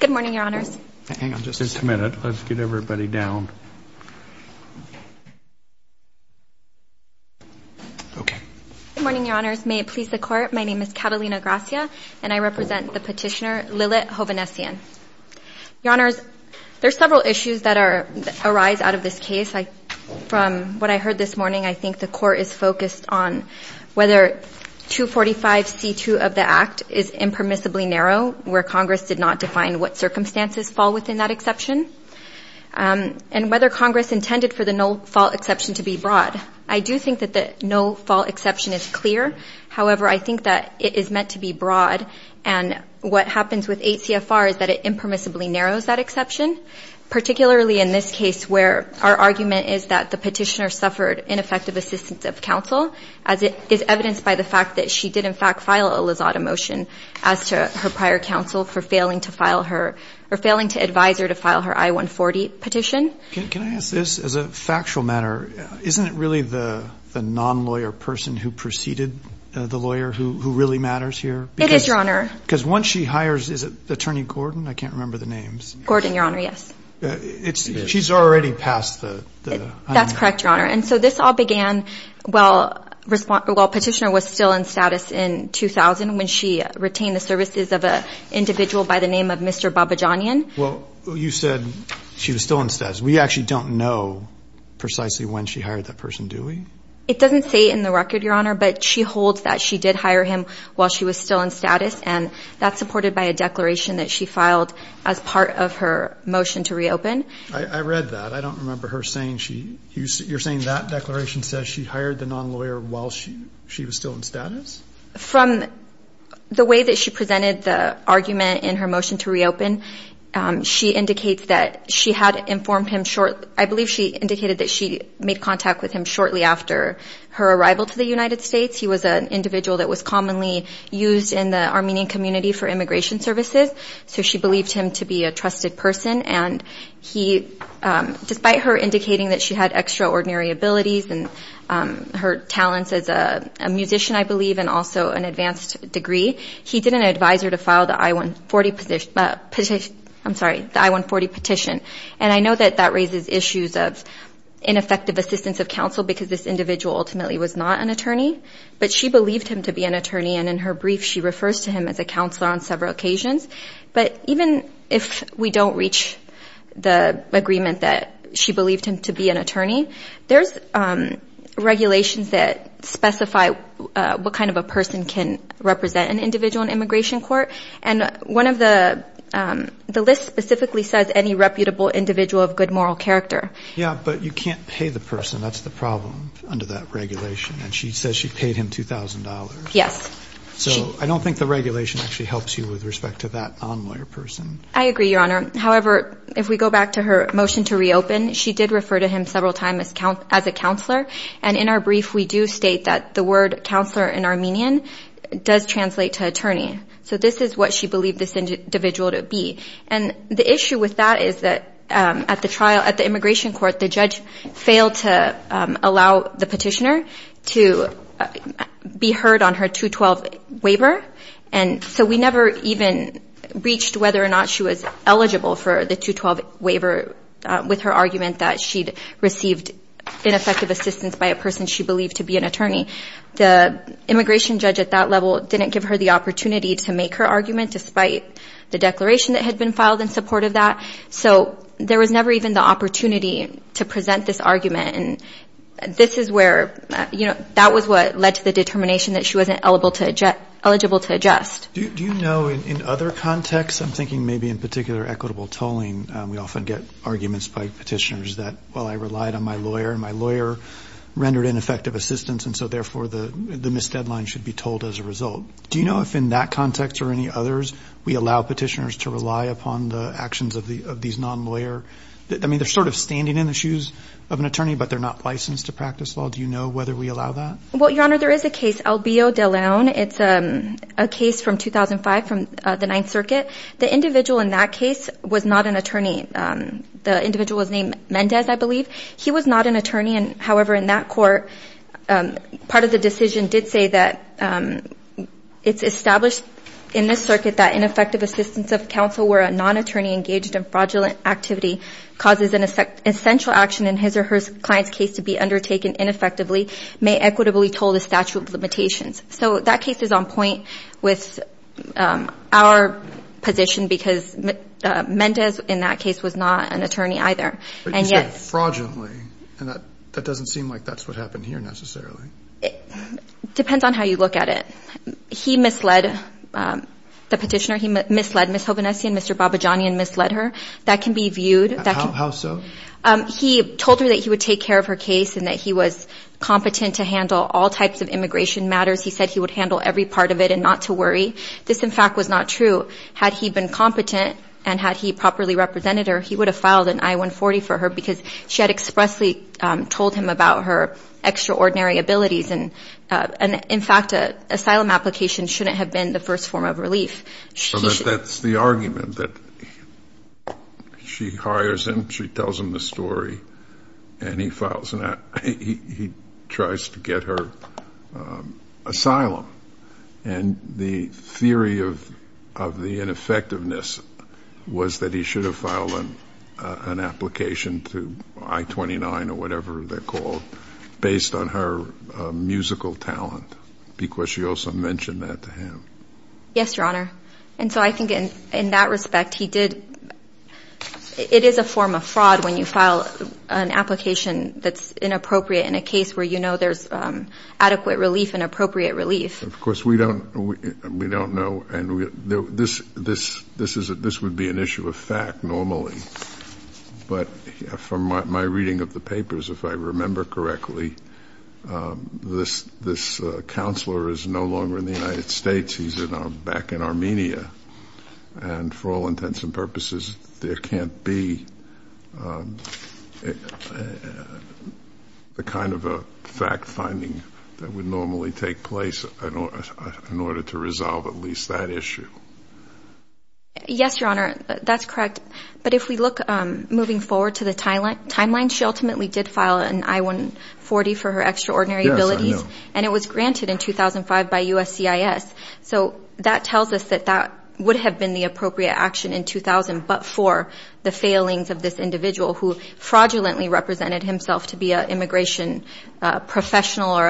Good morning, Your Honors. Hang on just a minute. Let's get everybody down. Good morning, Your Honors. May it please the Court, my name is Catalina Gracia, and I represent the petitioner Lilit Hovhannisyan. Your Honors, there are several issues that arise out of this case. From what I heard this morning, I think the Court is focused on whether 245C2 of the Act is impermissibly narrow, where Congress did not define what circumstances fall within that exception, and whether Congress intended for the no-fault exception to be broad. I do think that the no-fault exception is clear. However, I think that it is meant to be broad, and what happens with 8 CFR is that it impermissibly narrows that exception, particularly in this case where our argument is that the petitioner suffered ineffective assistance of her prior counsel by the fact that she did in fact file a Lizotta motion as to her prior counsel for failing to advise her to file her I-140 petition. Can I ask this as a factual matter? Isn't it really the non-lawyer person who preceded the lawyer who really matters here? It is, Your Honor. Because once she hires, is it Attorney Gordon? I can't remember the names. Gordon, Your Honor, yes. She's already passed the I-140. That's correct, Your Honor. And so this all began while petitioner was still in status in 2000 when she retained the services of an individual by the name of Mr. Babajanian. Well, you said she was still in status. We actually don't know precisely when she hired that person, do we? It doesn't say in the record, Your Honor, but she holds that she did hire him while she was still in status, and that's supported by a declaration that she filed as part of her motion to reopen. I read that. I don't remember her saying she, you're saying that declaration says she hired the non-lawyer while she was still in status? From the way that she presented the argument in her motion to reopen, she indicates that she had informed him short, I believe she indicated that she made contact with him shortly after her arrival to the United States. He was an individual that was commonly used in the Armenian community for immigration services, so she believed him to be a trusted person, and he, despite her indicating that she had extraordinary abilities and her talents as a musician, I believe, and also an advanced degree, he didn't advise her to file the I-140 petition, and I know that that raises issues of ineffective assistance of counsel because this individual ultimately was not an attorney, but she believed him to be an attorney, and in her brief she refers to him as a counselor on several occasions, but even if we don't reach the agreement that she believed him to be an attorney, there's regulations that specify what kind of a person can represent an individual in immigration court, and one of the, the list specifically says any reputable individual of good moral character. Yeah, but you can't pay the person, that's the problem under that regulation, and she says she paid him $2,000. Yes. So I don't think the regulation actually helps you with respect to that non-lawyer person. I agree, Your Honor. However, if we go back to her motion to reopen, she did refer to him several times as a counselor, and in our brief we do state that the word counselor in Armenian does translate to attorney, so this is what she believed this individual to be, and the issue with that is that at the trial, at the immigration court, the judge failed to allow the petitioner to be heard on her 212 waiver, and so we never even reached whether or not she was eligible for the 212 waiver with her argument that she'd received ineffective assistance by a person she believed to be an attorney. The immigration judge at that level didn't give her the opportunity to make her argument despite the declaration that had been filed in support of that, so there was never even the opportunity to present this argument, and this is where, you know, that was what led to the determination that she wasn't eligible to adjust. Do you know, in other contexts, I'm thinking maybe in particular equitable tolling, we often get arguments by petitioners that, well, I relied on my lawyer, and my lawyer rendered ineffective assistance, and so therefore the missed deadline should be told as a result. Do you know if in that context or any others we allow petitioners to rely upon the actions of these non-lawyer, I mean, they're sort of standing in the shoes of an attorney, but they're not licensed to practice law. Do you know whether we allow that? Well, Your Honor, there is a case, Albio de Leon. It's a case from 2005 from the Ninth Circuit. The individual in that case was not an attorney. The individual was named Mendez, I believe. He was not an attorney, and however, in that court, part of the decision did say that it's established in this circuit that ineffective assistance of counsel where a non-attorney engaged in fraudulent activity causes an essential action in his or her client's case to be undertaken ineffectively may equitably toll the statute of limitations. So that case is on point with our position because Mendez in that case was not an attorney either. But he said fraudulently, and that doesn't seem like that's what happened here necessarily. It depends on how you look at it. He misled the petitioner. He misled Ms. Hovhannessy and Mr. Babajani and misled her. That can be viewed. How so? He told her that he would take care of her case and that he was competent to handle all types of immigration matters. He said he would handle every part of it and not to worry. This, in fact, was not true. Had he been competent and had he properly represented her, he would have filed an I-140 for her because she had expressly told him about her extraordinary abilities. And in fact, an asylum application shouldn't have been the first form of relief. So that's the argument that she hires him, she tells him the story, and he tries to get her asylum. And the theory of the ineffectiveness was that he should have filed an application to I-29 or whatever they're called based on her musical talent because she also mentioned that to him. Yes, Your Honor. And so I think in that respect, he did It is a form of fraud when you file an application that's inappropriate in a case where you know there's adequate relief and appropriate relief. Of course, we don't know. This would be an issue of fact normally. But from my reading of the papers, if I remember correctly, this counselor is no longer in the United States. He's back in Armenia. And for all intents and purposes, there can't be the kind of fact-finding that would normally take place in order to resolve at least that issue. Yes, Your Honor. That's correct. But if we look moving forward to the timeline, she ultimately did file an I-140 for her extraordinary abilities. And it was granted in 2005 by USCIS. So that tells us that that would have been the appropriate action in 2000 but for the failings of this individual who fraudulently represented himself to be an immigration professional or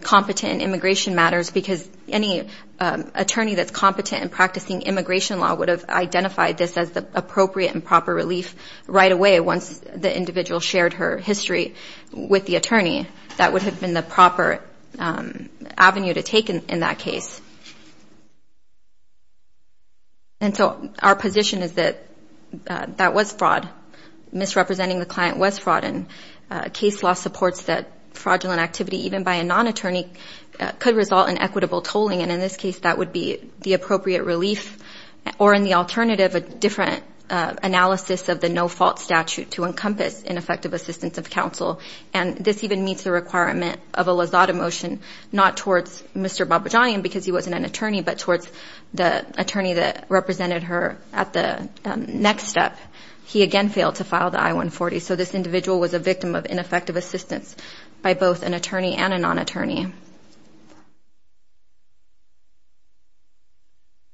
competent in immigration matters because any attorney that's competent in practicing immigration law would have identified this as the appropriate and proper relief right away once the individual shared her history with the attorney. That would have been the proper avenue to take in that case. And so our position is that that was fraud. Misrepresenting the client was fraud. And case law supports that fraudulent activity even by a non-attorney could result in equitable tolling. And in this case, that would be the appropriate relief or in the alternative, a different analysis of the no-fault statute to encompass ineffective assistance of counsel. And this even meets the requirement of a Lazada motion, not towards Mr. Babajian because he wasn't an attorney, but towards the attorney that represented her at the next step. He again failed to file the I-140. So this individual was a victim of ineffective assistance by both an attorney and a non-attorney.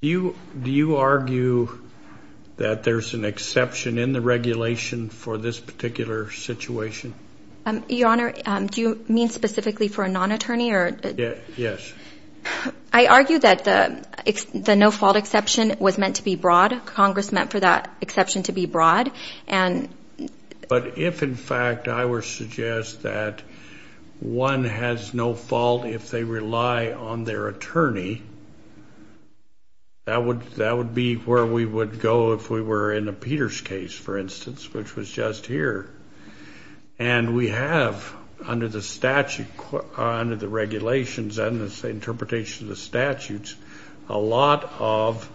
Do you argue that there's an exception in the regulation for this particular situation? Your Honor, do you mean specifically for a non-attorney? Yes. I argue that the no-fault exception was meant to be broad. Congress meant for that exception to be broad. But if, in fact, I were to suggest that one has no fault if they rely on their attorney, that would be where we would go if we were in a Peters case, for instance, which was just here. And we have, under the regulations and the interpretation of the statutes, a lot of,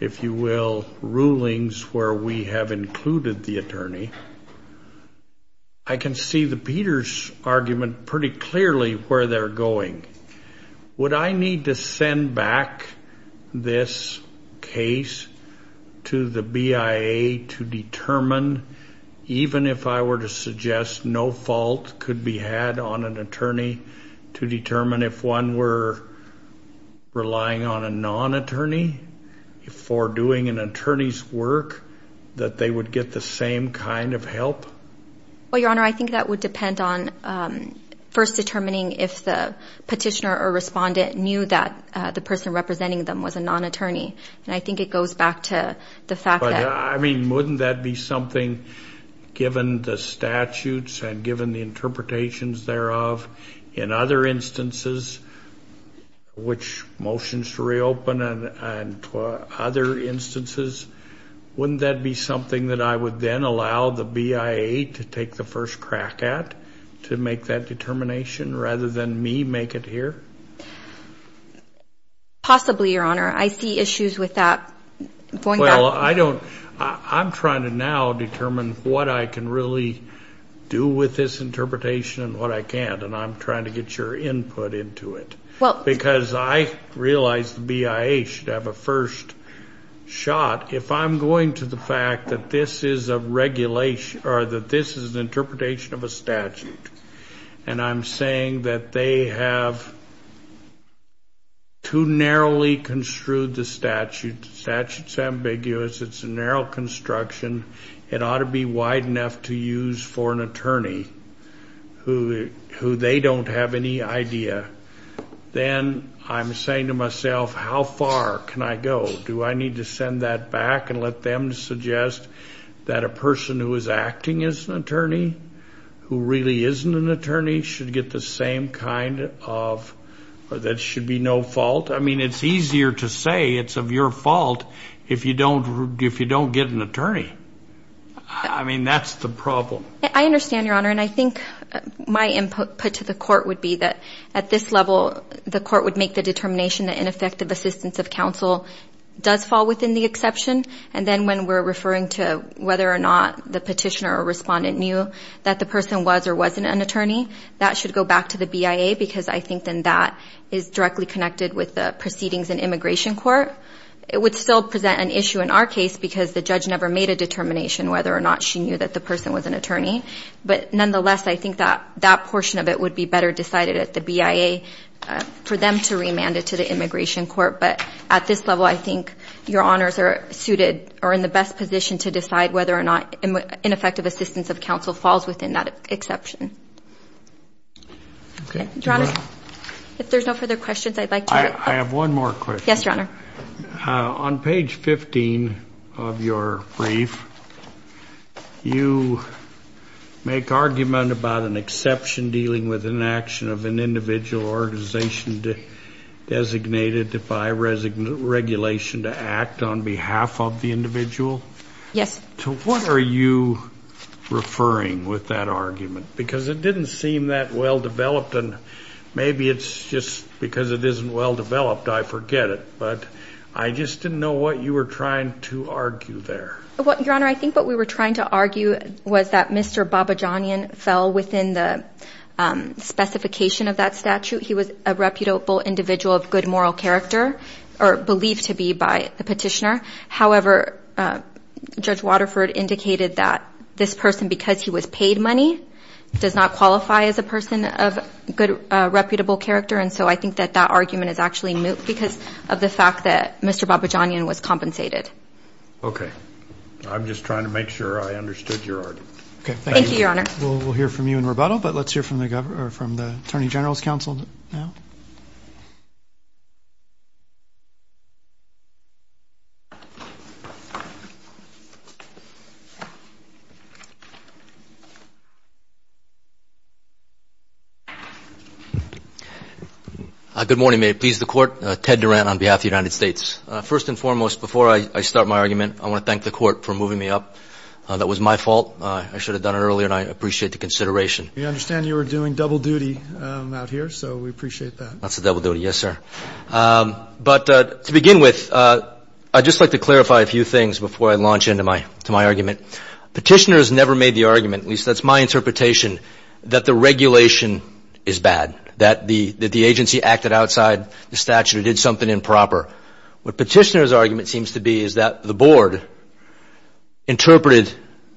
if you will, rulings where we have included the attorney. I can see the Peters argument pretty clearly where they're going. Would I need to send back this case to the BIA to determine, even if I were to suggest no fault could be had on an attorney, to determine if one were relying on a non-attorney for doing an attorney's work, that they would get the same kind of help? Well, Your Honor, I think that would depend on first determining if the petitioner or respondent knew that the person representing them was a non-attorney. And I think it goes back to the fact that... But, I mean, wouldn't that be something given the statutes and given the interpretations thereof in other instances, which motions to reopen and other instances, wouldn't that be something that I would then allow the BIA to take the first crack at to make that determination rather than me make it here? Possibly, Your Honor. I see issues with that. Well, I don't... I'm trying to now determine what I can really do with this interpretation and what I can't, and I'm trying to get your input into it. Because I realize the BIA should have a first shot. If I'm going to the fact that this is a regulation, or that this is an interpretation of a statute, and I'm saying that they have too narrowly construed the statute, the statute's ambiguous, it's a narrow construction, it ought to be wide enough to use for an attorney who they don't have any idea, then I'm saying to myself, how far can I go? Do I need to send that back and let them suggest that a person who is acting as an attorney, who really isn't an attorney, should get the same kind of... that should be no fault? I mean, it's easier to say it's of your fault if you don't get an attorney. I mean, that's the problem. I understand, Your Honor, and I think my input put to the court would be that at this level, the court would make the determination that ineffective assistance of counsel does fall within the exception, and then when we're referring to whether or not the petitioner or respondent knew that the person was or wasn't an attorney, that should go back to the BIA, because I think then that is directly connected with the proceedings in immigration court. It would still present an issue in our case, because the judge never made a determination whether or not she knew that the person was an attorney, but nonetheless, I think that portion of it would be better decided at the BIA for them to remand it to the immigration court, but at this level, I think Your Honors are suited or in the best position to decide whether or not ineffective assistance of counsel falls within that exception. Your Honor, if there's no further questions, I'd like to hear it. I have one more question. Yes, Your Honor. On page 15 of your brief, you make argument about an exception dealing with an action of an individual organization designated by regulation to act on behalf of the individual. Yes. To what are you referring with that argument? Because it didn't seem that well-developed, and maybe it's just because it isn't well-developed, I forget it, but I just didn't know what you were trying to argue there. Your Honor, I think what we were trying to argue was that Mr. Babajanian fell within the specification of that statute. He was a reputable individual of good moral character, or believed to be by the petitioner. However, Judge Waterford indicated that this person, because he was paid money, does not qualify as a person of good reputable character, and so I think that that argument is actually moot because of the fact that Mr. Babajanian was compensated. Okay. I'm just trying to make sure I understood your argument. Thank you, Your Honor. We'll hear from you in rebuttal, but let's hear from the Attorney General's counsel now. Good morning. May it please the Court. Ted Durant on behalf of the United States. First and foremost, before I start my argument, I want to thank the Court for moving me up. That was my fault. I should have done it earlier, and I appreciate the consideration. We understand you were doing double duty out here, so we appreciate that. Thank you. That's the double duty, yes, sir. But to begin with, I'd just like to clarify a few things before I launch into my argument. Petitioners never made the argument, at least that's my interpretation, that the regulation is bad, that the agency acted outside the statute or did something improper. What Petitioner's argument seems to be is that the Board interpreted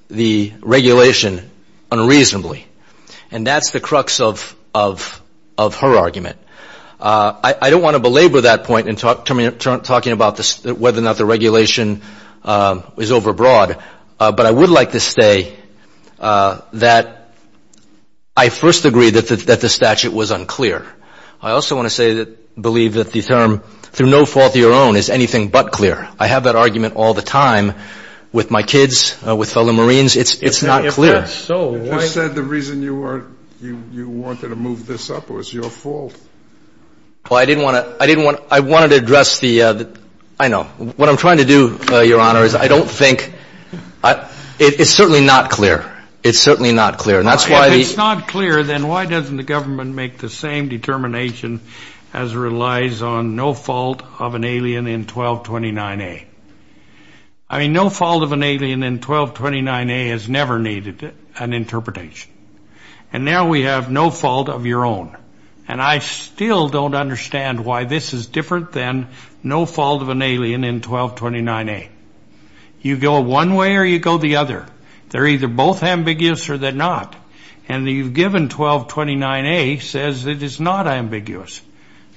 the regulation unreasonably, and that's the crux of her argument. I don't want to belabor that point in talking about whether or not the regulation is overbroad, but I would like to say that I first agree that the statute was unclear. I also want to believe that the term, through no fault of your own, is anything but clear. I have that argument all the time with my kids, with fellow Marines. It's not clear. You just said the reason you wanted to move this up was your fault. I know. What I'm trying to do, Your Honor, is I don't think it's certainly not clear. If it's not clear, then why doesn't the government make the same determination as relies on no fault of an alien in 1229A? I mean, no fault of an alien in 1229A has never needed an interpretation, and now we have no fault of your own, and I still don't understand why this is different than no fault of an alien in 1229A. You go one way or you go the other. They're either both ambiguous or they're not, and you've given 1229A says it is not ambiguous,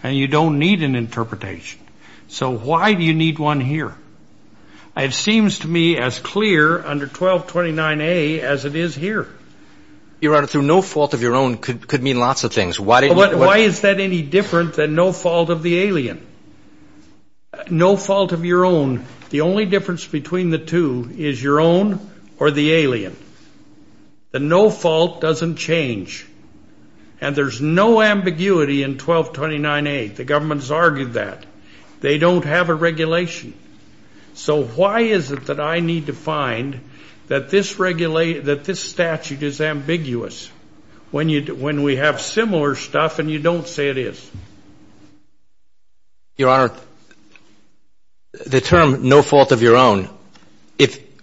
and you don't need an interpretation. So why do you need one here? It seems to me as clear under 1229A as it is here. Your Honor, no fault of your own could mean lots of things. Why is that any different than no fault of the alien? No fault of your own. The only difference between the two is your own or the alien. The no fault doesn't change. And there's no ambiguity in 1229A. The government's argued that. They don't have a regulation. So why is it that I need to find that this statute is ambiguous when we have similar stuff and you don't say it is? Your Honor, the term no fault of your own,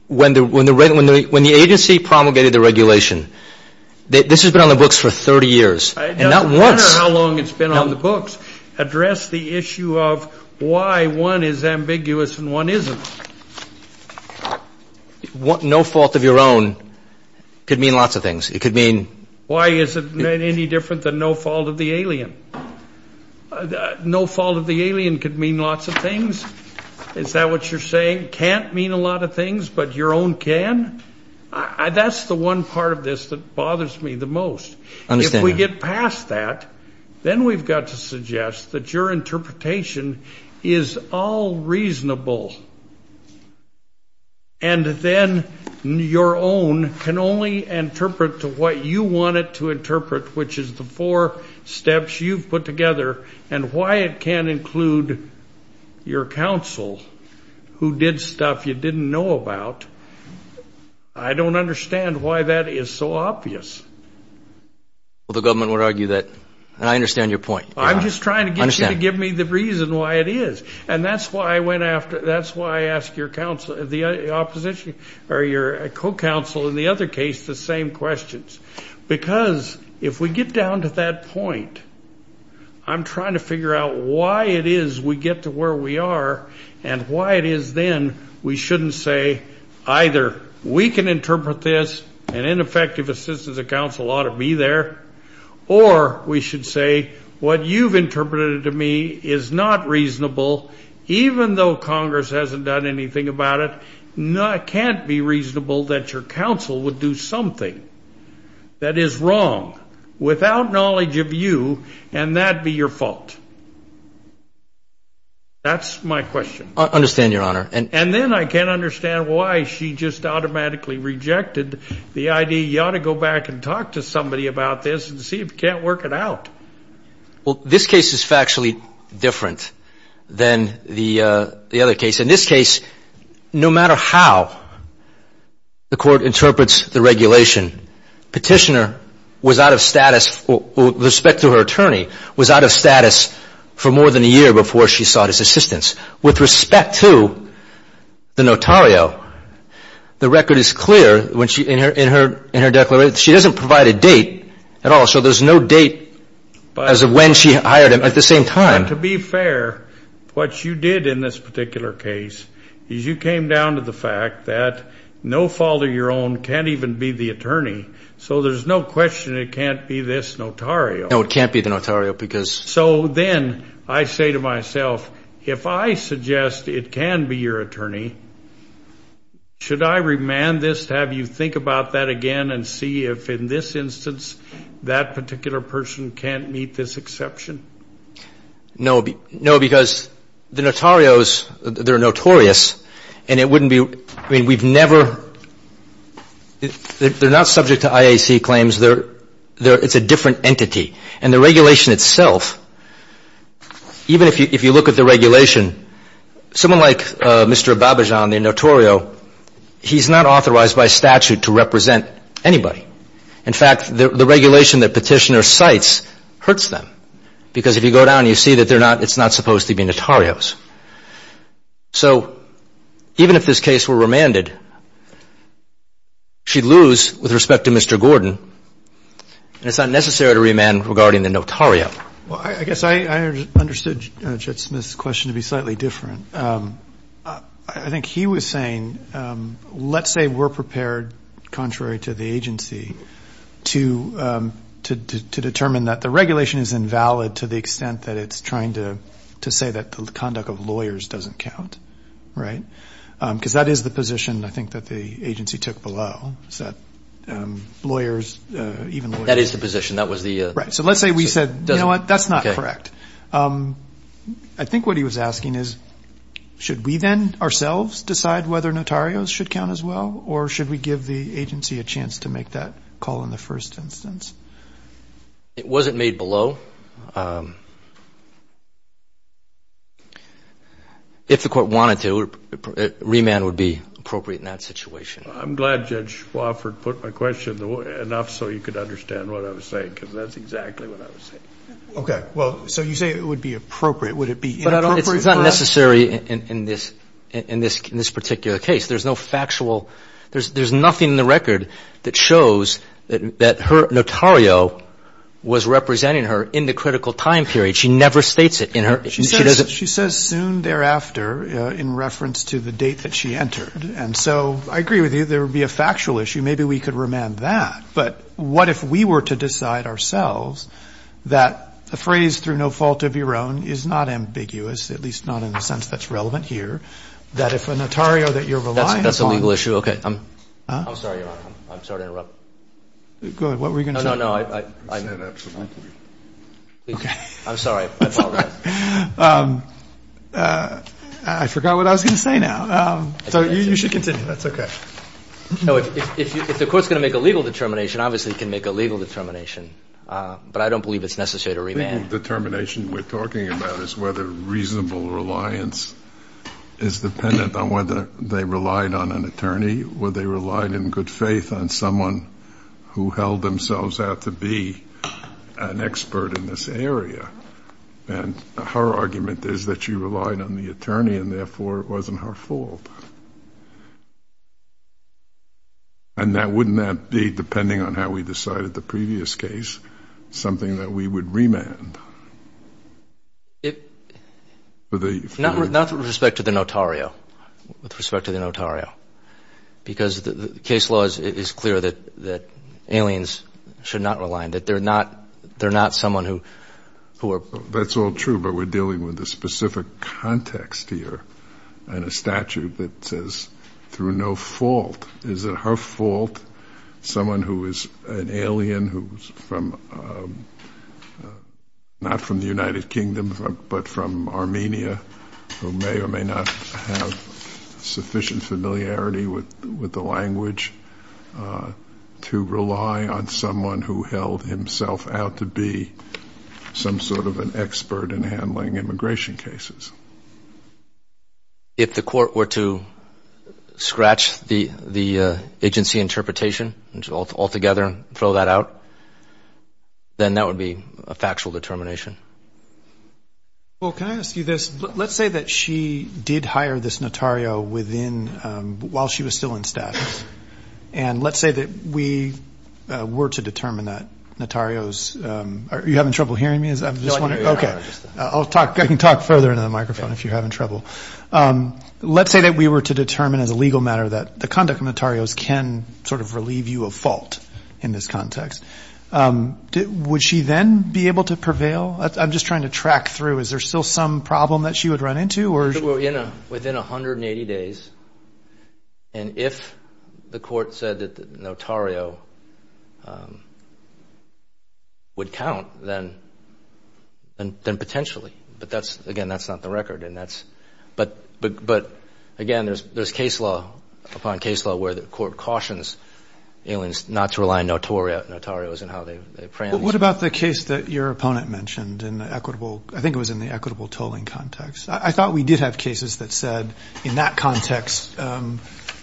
when the agency promulgated the regulation, this has been on the books for 30 years, and not once. It doesn't matter how long it's been on the books. Address the issue of why one is ambiguous and one isn't. No fault of your own could mean lots of things. Why is it any different than no fault of the alien? No fault of the alien could mean lots of things. Is that what you're saying? Can't mean a lot of things, but your own can? That's the one part of this that bothers me the most. If we get past that, then we've got to suggest that your interpretation is all reasonable. And then your own can only interpret what you want it to interpret, which is the four steps you've put together, and why it can't include your counsel, who did stuff you didn't know about. I don't understand why that is so obvious. Well, the government would argue that I understand your point. I'm just trying to get you to give me the reason why it is. And that's why I asked your co-counsel, in the other case, the same questions. Because if we get down to that point, I'm trying to figure out why it is we get to where we are and why it is then we shouldn't say either we can interpret this, and ineffective assistance of counsel ought to be there, or we should say what you've interpreted to me is not reasonable, even though Congress hasn't done anything about it. It can't be reasonable that your counsel would do something that is wrong without knowledge of you, and that be your fault. That's my question. I understand, Your Honor. And then I can't understand why she just automatically rejected the idea you ought to go back and talk to somebody about this and see if you can't work it out. Well, this case is factually different than the other case. In this case, no matter how the court interprets the regulation, petitioner was out of status, with respect to her attorney, was out of status for more than a year before she sought his assistance. With respect to the notario, the record is in her declaration. She doesn't provide a date at all, so there's no date as of when she hired him at the same time. But to be fair, what you did in this particular case is you came down to the fact that no fault of your own can't even be the attorney, so there's no question it can't be this notario. No, it can't be the notario because So then I say to myself, if I suggest it can be your attorney, should I remand this to have you think about that again and see if in this instance that particular person can't meet this exception? No, because the notarios, they're notorious and it wouldn't be, we've never they're not subject to IAC claims, it's a different entity. And the regulation itself, even if you look at the regulation, someone like Mr. Babajan, the notario he's not authorized by statute to represent anybody. In fact, the regulation that Petitioner cites hurts them because if you go down and you see that it's not supposed to be notarios. So even if this case were remanded, she'd lose with respect to Mr. Gordon and it's not necessary to remand regarding the notario. Well, I guess I understood Judge Smith's question to be slightly different. I think he was saying, let's say we're prepared contrary to the agency to determine that the regulation is invalid to the extent that it's trying to say that the conduct of lawyers doesn't count. Right? Because that is the position, I think, that the agency took below. Is that lawyers, even lawyers. That is the position. Right. So let's say we said, you know what, that's not correct. I think what he was asking is, should we then ourselves decide whether notarios should count as well or should we give the agency a chance to make that call in the first instance? It wasn't made below. If the court wanted to, remand would be appropriate in that situation. I'm glad Judge Swofford put my question enough so you could understand what I was saying because that's exactly what I was saying. Okay. Well, so you say it would be appropriate. Would it be inappropriate for us? But it's not necessary in this particular case. There's no factual there's nothing in the record that shows that her notario was representing her in the critical time period. She never states it. She says soon thereafter in reference to the date that she entered. And so I agree with you. There would be a factual issue. Maybe we could remand that. But what if we were to decide ourselves that the phrase, through no fault of your own, is not ambiguous, at least not in the sense that's relevant here, that if a notario that you're relying upon. That's a legal issue. Okay. I'm sorry, Your Honor. I'm sorry to interrupt. Go ahead. What were you going to say? No, no, no. I'm sorry. I apologize. I forgot what I was going to say now. So you should continue. That's okay. If the court's going to make a legal determination, obviously it can make a legal determination. But I don't believe it's necessary to remand. The legal determination we're talking about is whether reasonable reliance is dependent on whether they relied on an attorney or they relied in good faith on someone who held themselves out to be an expert in this area. And her argument is that she relied on the attorney and therefore it wasn't her fault. And wouldn't that be, depending on how we decided the previous case, something that we would remand? Not with respect to the notario. With respect to the notario. Because the case law is clear that aliens should not rely on it. They're not someone who... That's all true, but we're dealing with a specific context here and a statute that says through no fault is it her fault someone who is an alien who's from not from the United Kingdom, but from Armenia who may or may not have sufficient familiarity with the language to rely on someone who held himself out to be some sort of an expert in handling immigration cases. If the court were to scratch the agency interpretation altogether and throw that out, then that would be a factual determination. Well, can I ask you this? Let's say that she did hire this notario while she was still in status. And let's say that we were to determine that notario's... Are you having trouble hearing me? I can talk further into the microphone if you're having trouble. Let's say that we were to determine as a legal matter that the conduct of notarios can sort of relieve you of fault in this context. Would she then be able to prevail? I'm just trying to track through. Is there still some problem that she would run into? Within 180 days. And if the court said that notario would count, then potentially. But that's, again, that's not the record. But, again, there's case law upon case law where the court cautions aliens not to rely on notarios and how they preempt them. What about the case that your opponent mentioned in the equitable... I think it was in the equitable tolling context. I thought we did have cases that said in that context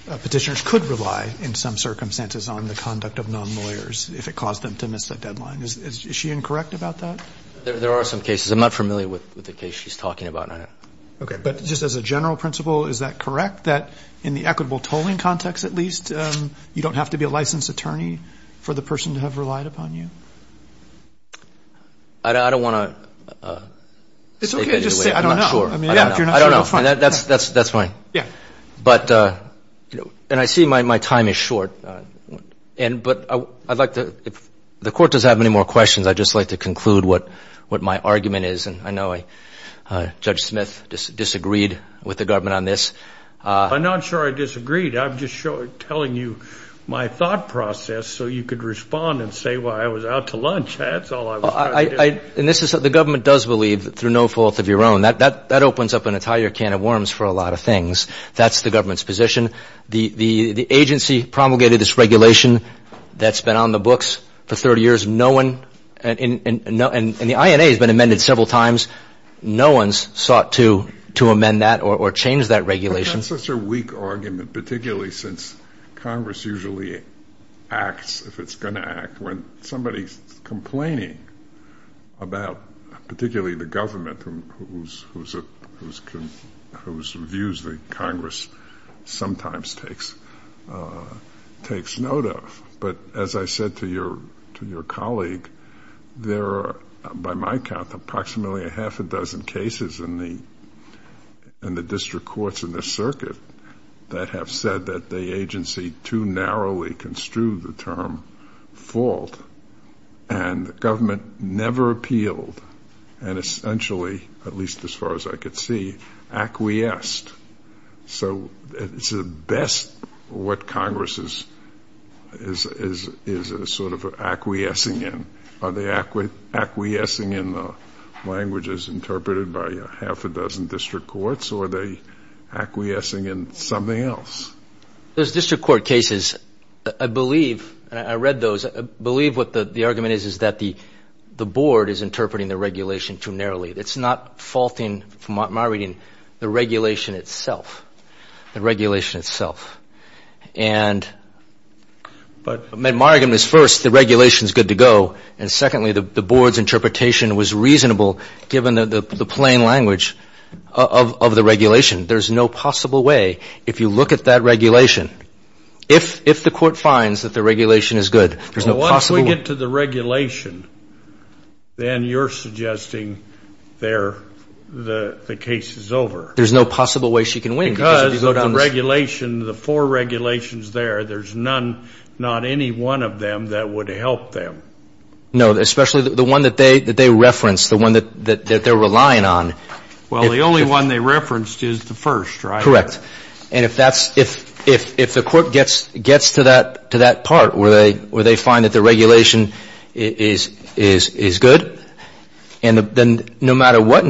petitioners could rely in some circumstances on the conduct of non-lawyers if it caused them to miss the deadline. Is she incorrect about that? There are some cases. I'm not familiar with the case she's talking about. Okay. But just as a general principle, is that correct that in the equitable tolling context, at least, you don't have to be a licensed attorney for the person to have relied upon you? I don't want to... It's okay to just say I don't know. I'm not sure. I don't know. That's fine. Yeah. And I see my time is short. But I'd like to... If the court does have any more questions, I'd just like to conclude what my argument is. And I know Judge Smith disagreed with the government on this. I'm not sure I disagreed. I'm just telling you my thought process so you could respond and say why I was out to lunch. That's all I was trying to do. The government does believe, through no fault of your own, that opens up an entire can of worms for a lot of things. That's the government's position. The agency promulgated this regulation that's been on the books for 30 years. No one... And the INA has been amended several times. No one's sought to amend that or change that regulation. That's such a weak argument, particularly since Congress usually acts if it's going to act when somebody's complaining about, particularly the government whose views the Congress sometimes takes note of. But as I said to your colleague, there are, by my count, approximately a half a dozen cases in the district courts in this circuit that have said that the agency too narrowly construed the term fault, and the government never appealed and essentially, at least as far as I could see, acquiesced. So it's at best what Congress is sort of acquiescing in. Are they acquiescing in the languages interpreted by a half a dozen district courts, or are they acquiescing in something else? Those district court cases, I believe, and I read those, I believe what the argument is is that the board is interpreting the regulation too narrowly. It's not faulting, from my reading, the regulation itself. The regulation itself. And my argument is, first, the regulation's good to go, and secondly, the board's interpretation was reasonable, given the plain language of the regulation. There's no possible way, if you look at that regulation, if the court finds that the regulation is good, once we get to the regulation, then you're suggesting the case is over. There's no possible way she can win. Because of the regulation, the four regulations there, there's none, not any one of them that would help them. No, especially the one that they referenced, the one that they're relying on. Well, the only one they referenced is the first, right? Correct. And if the court gets to that part where they find that the regulation is good, and then no matter what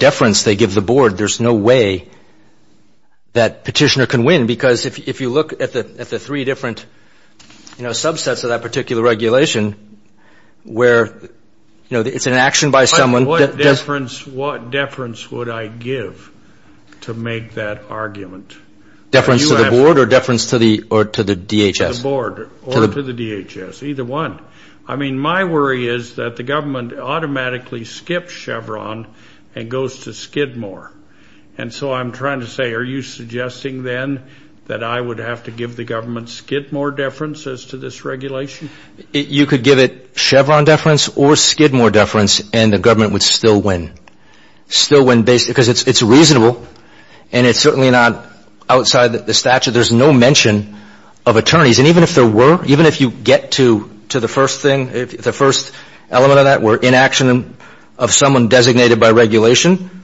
deference they give the board, there's no way that Petitioner can win. Because if you look at the three different subsets of that particular regulation, where it's an action by someone. What deference would I give to make that argument? Deference to the board or deference to the DHS? To the board or to the DHS. Either one. I mean, my worry is that the government automatically skips Chevron and goes to Skidmore. And so I'm trying to say, are you suggesting then that I would have to give the government Skidmore deference as to this regulation? You could give it Chevron deference or Skidmore deference and the government would still win. Because it's reasonable and it's certainly not outside the statute. There's no mention of attorneys. And even if there were, even if you get to the first thing, the first element of that were inaction of someone designated by regulation,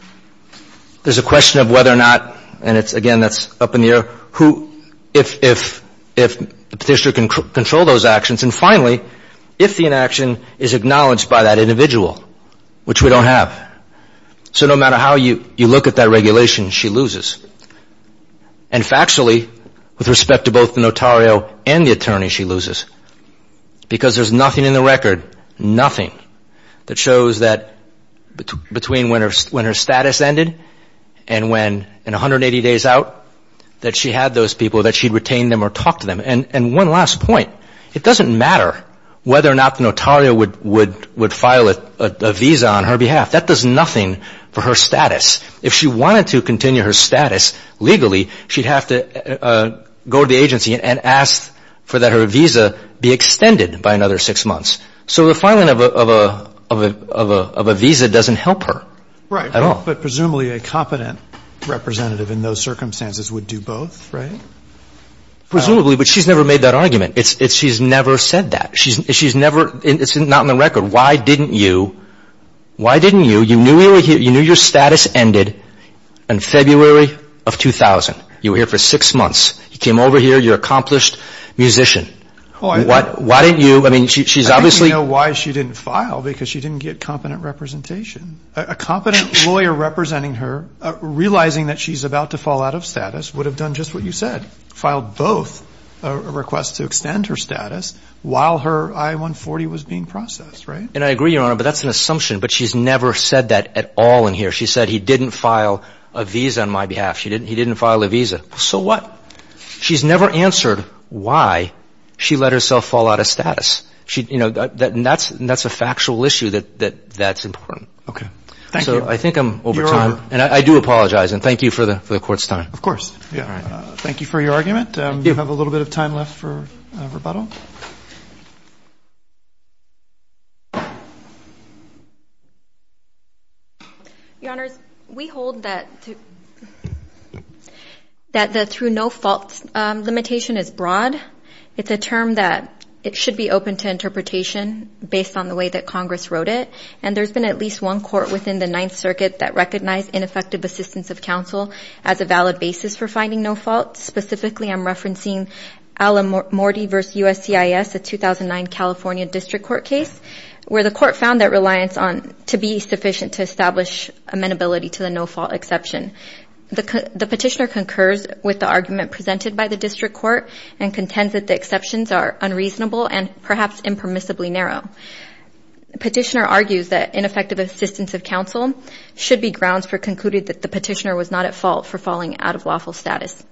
there's a question of whether or not and it's, again, that's up in the air, who, if Petitioner can control those actions. And finally, if the inaction is acknowledged by that individual, which we don't have. So no matter how you look at that regulation, she loses. And factually, with respect to both the notario and the attorney, she loses. Because there's nothing in the record, nothing, that shows that between when her status ended and 180 days out that she had those people, that she'd retain them or talk to them. And one last point, it doesn't matter whether or not the notario would file a visa on her behalf. That does nothing for her status. If she wanted to continue her status legally, she'd have to go to the agency and ask for that her visa be extended by another six months. So the filing of a visa doesn't help her at all. Right. But presumably a competent representative in those circumstances would do both, right? Presumably. But she's never made that argument. She's never said that. She's never, it's not in the record. Why didn't you, why didn't you, you knew your status ended in February of 2000. You were here for six months. You came over here, you're an accomplished musician. Why didn't you, I mean, she's obviously I don't even know why she didn't file, because she didn't get competent representation. A competent lawyer representing her, realizing that she's about to fall out of status, would have done just what you said. Filed both requests to her I-140 was being processed, right? And I agree, Your Honor, but that's an assumption. But she's never said that at all in here. She said he didn't file a visa on my behalf. He didn't file a visa. So what? She's never answered why she let herself fall out of status. And that's a factual issue that's important. Okay. Thank you. So I think I'm over time. And I do apologize. And thank you for the Court's time. Of course. Thank you for your argument. We have a little bit of time left for questions. Your Honors, we hold that that the through no fault limitation is broad. It's a term that it should be open to interpretation based on the way that Congress wrote it. And there's been at least one Court within the Ninth Circuit that recognized ineffective assistance of counsel as a valid basis for finding no fault. Specifically, I'm referencing Alamorti v. USCIS, a 2009 California District Court case where the Court found that reliance on to be sufficient to establish amenability to the no fault exception. The Petitioner concurs with the argument presented by the District Court and contends that the exceptions are unreasonable and perhaps impermissibly narrow. Petitioner argues that ineffective assistance of counsel should be grounds for concluding that the Petitioner was not at fault for falling out of lawful status.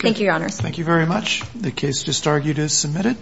Thank you, Your Honors. Thank you very much. The case just argued is submitted.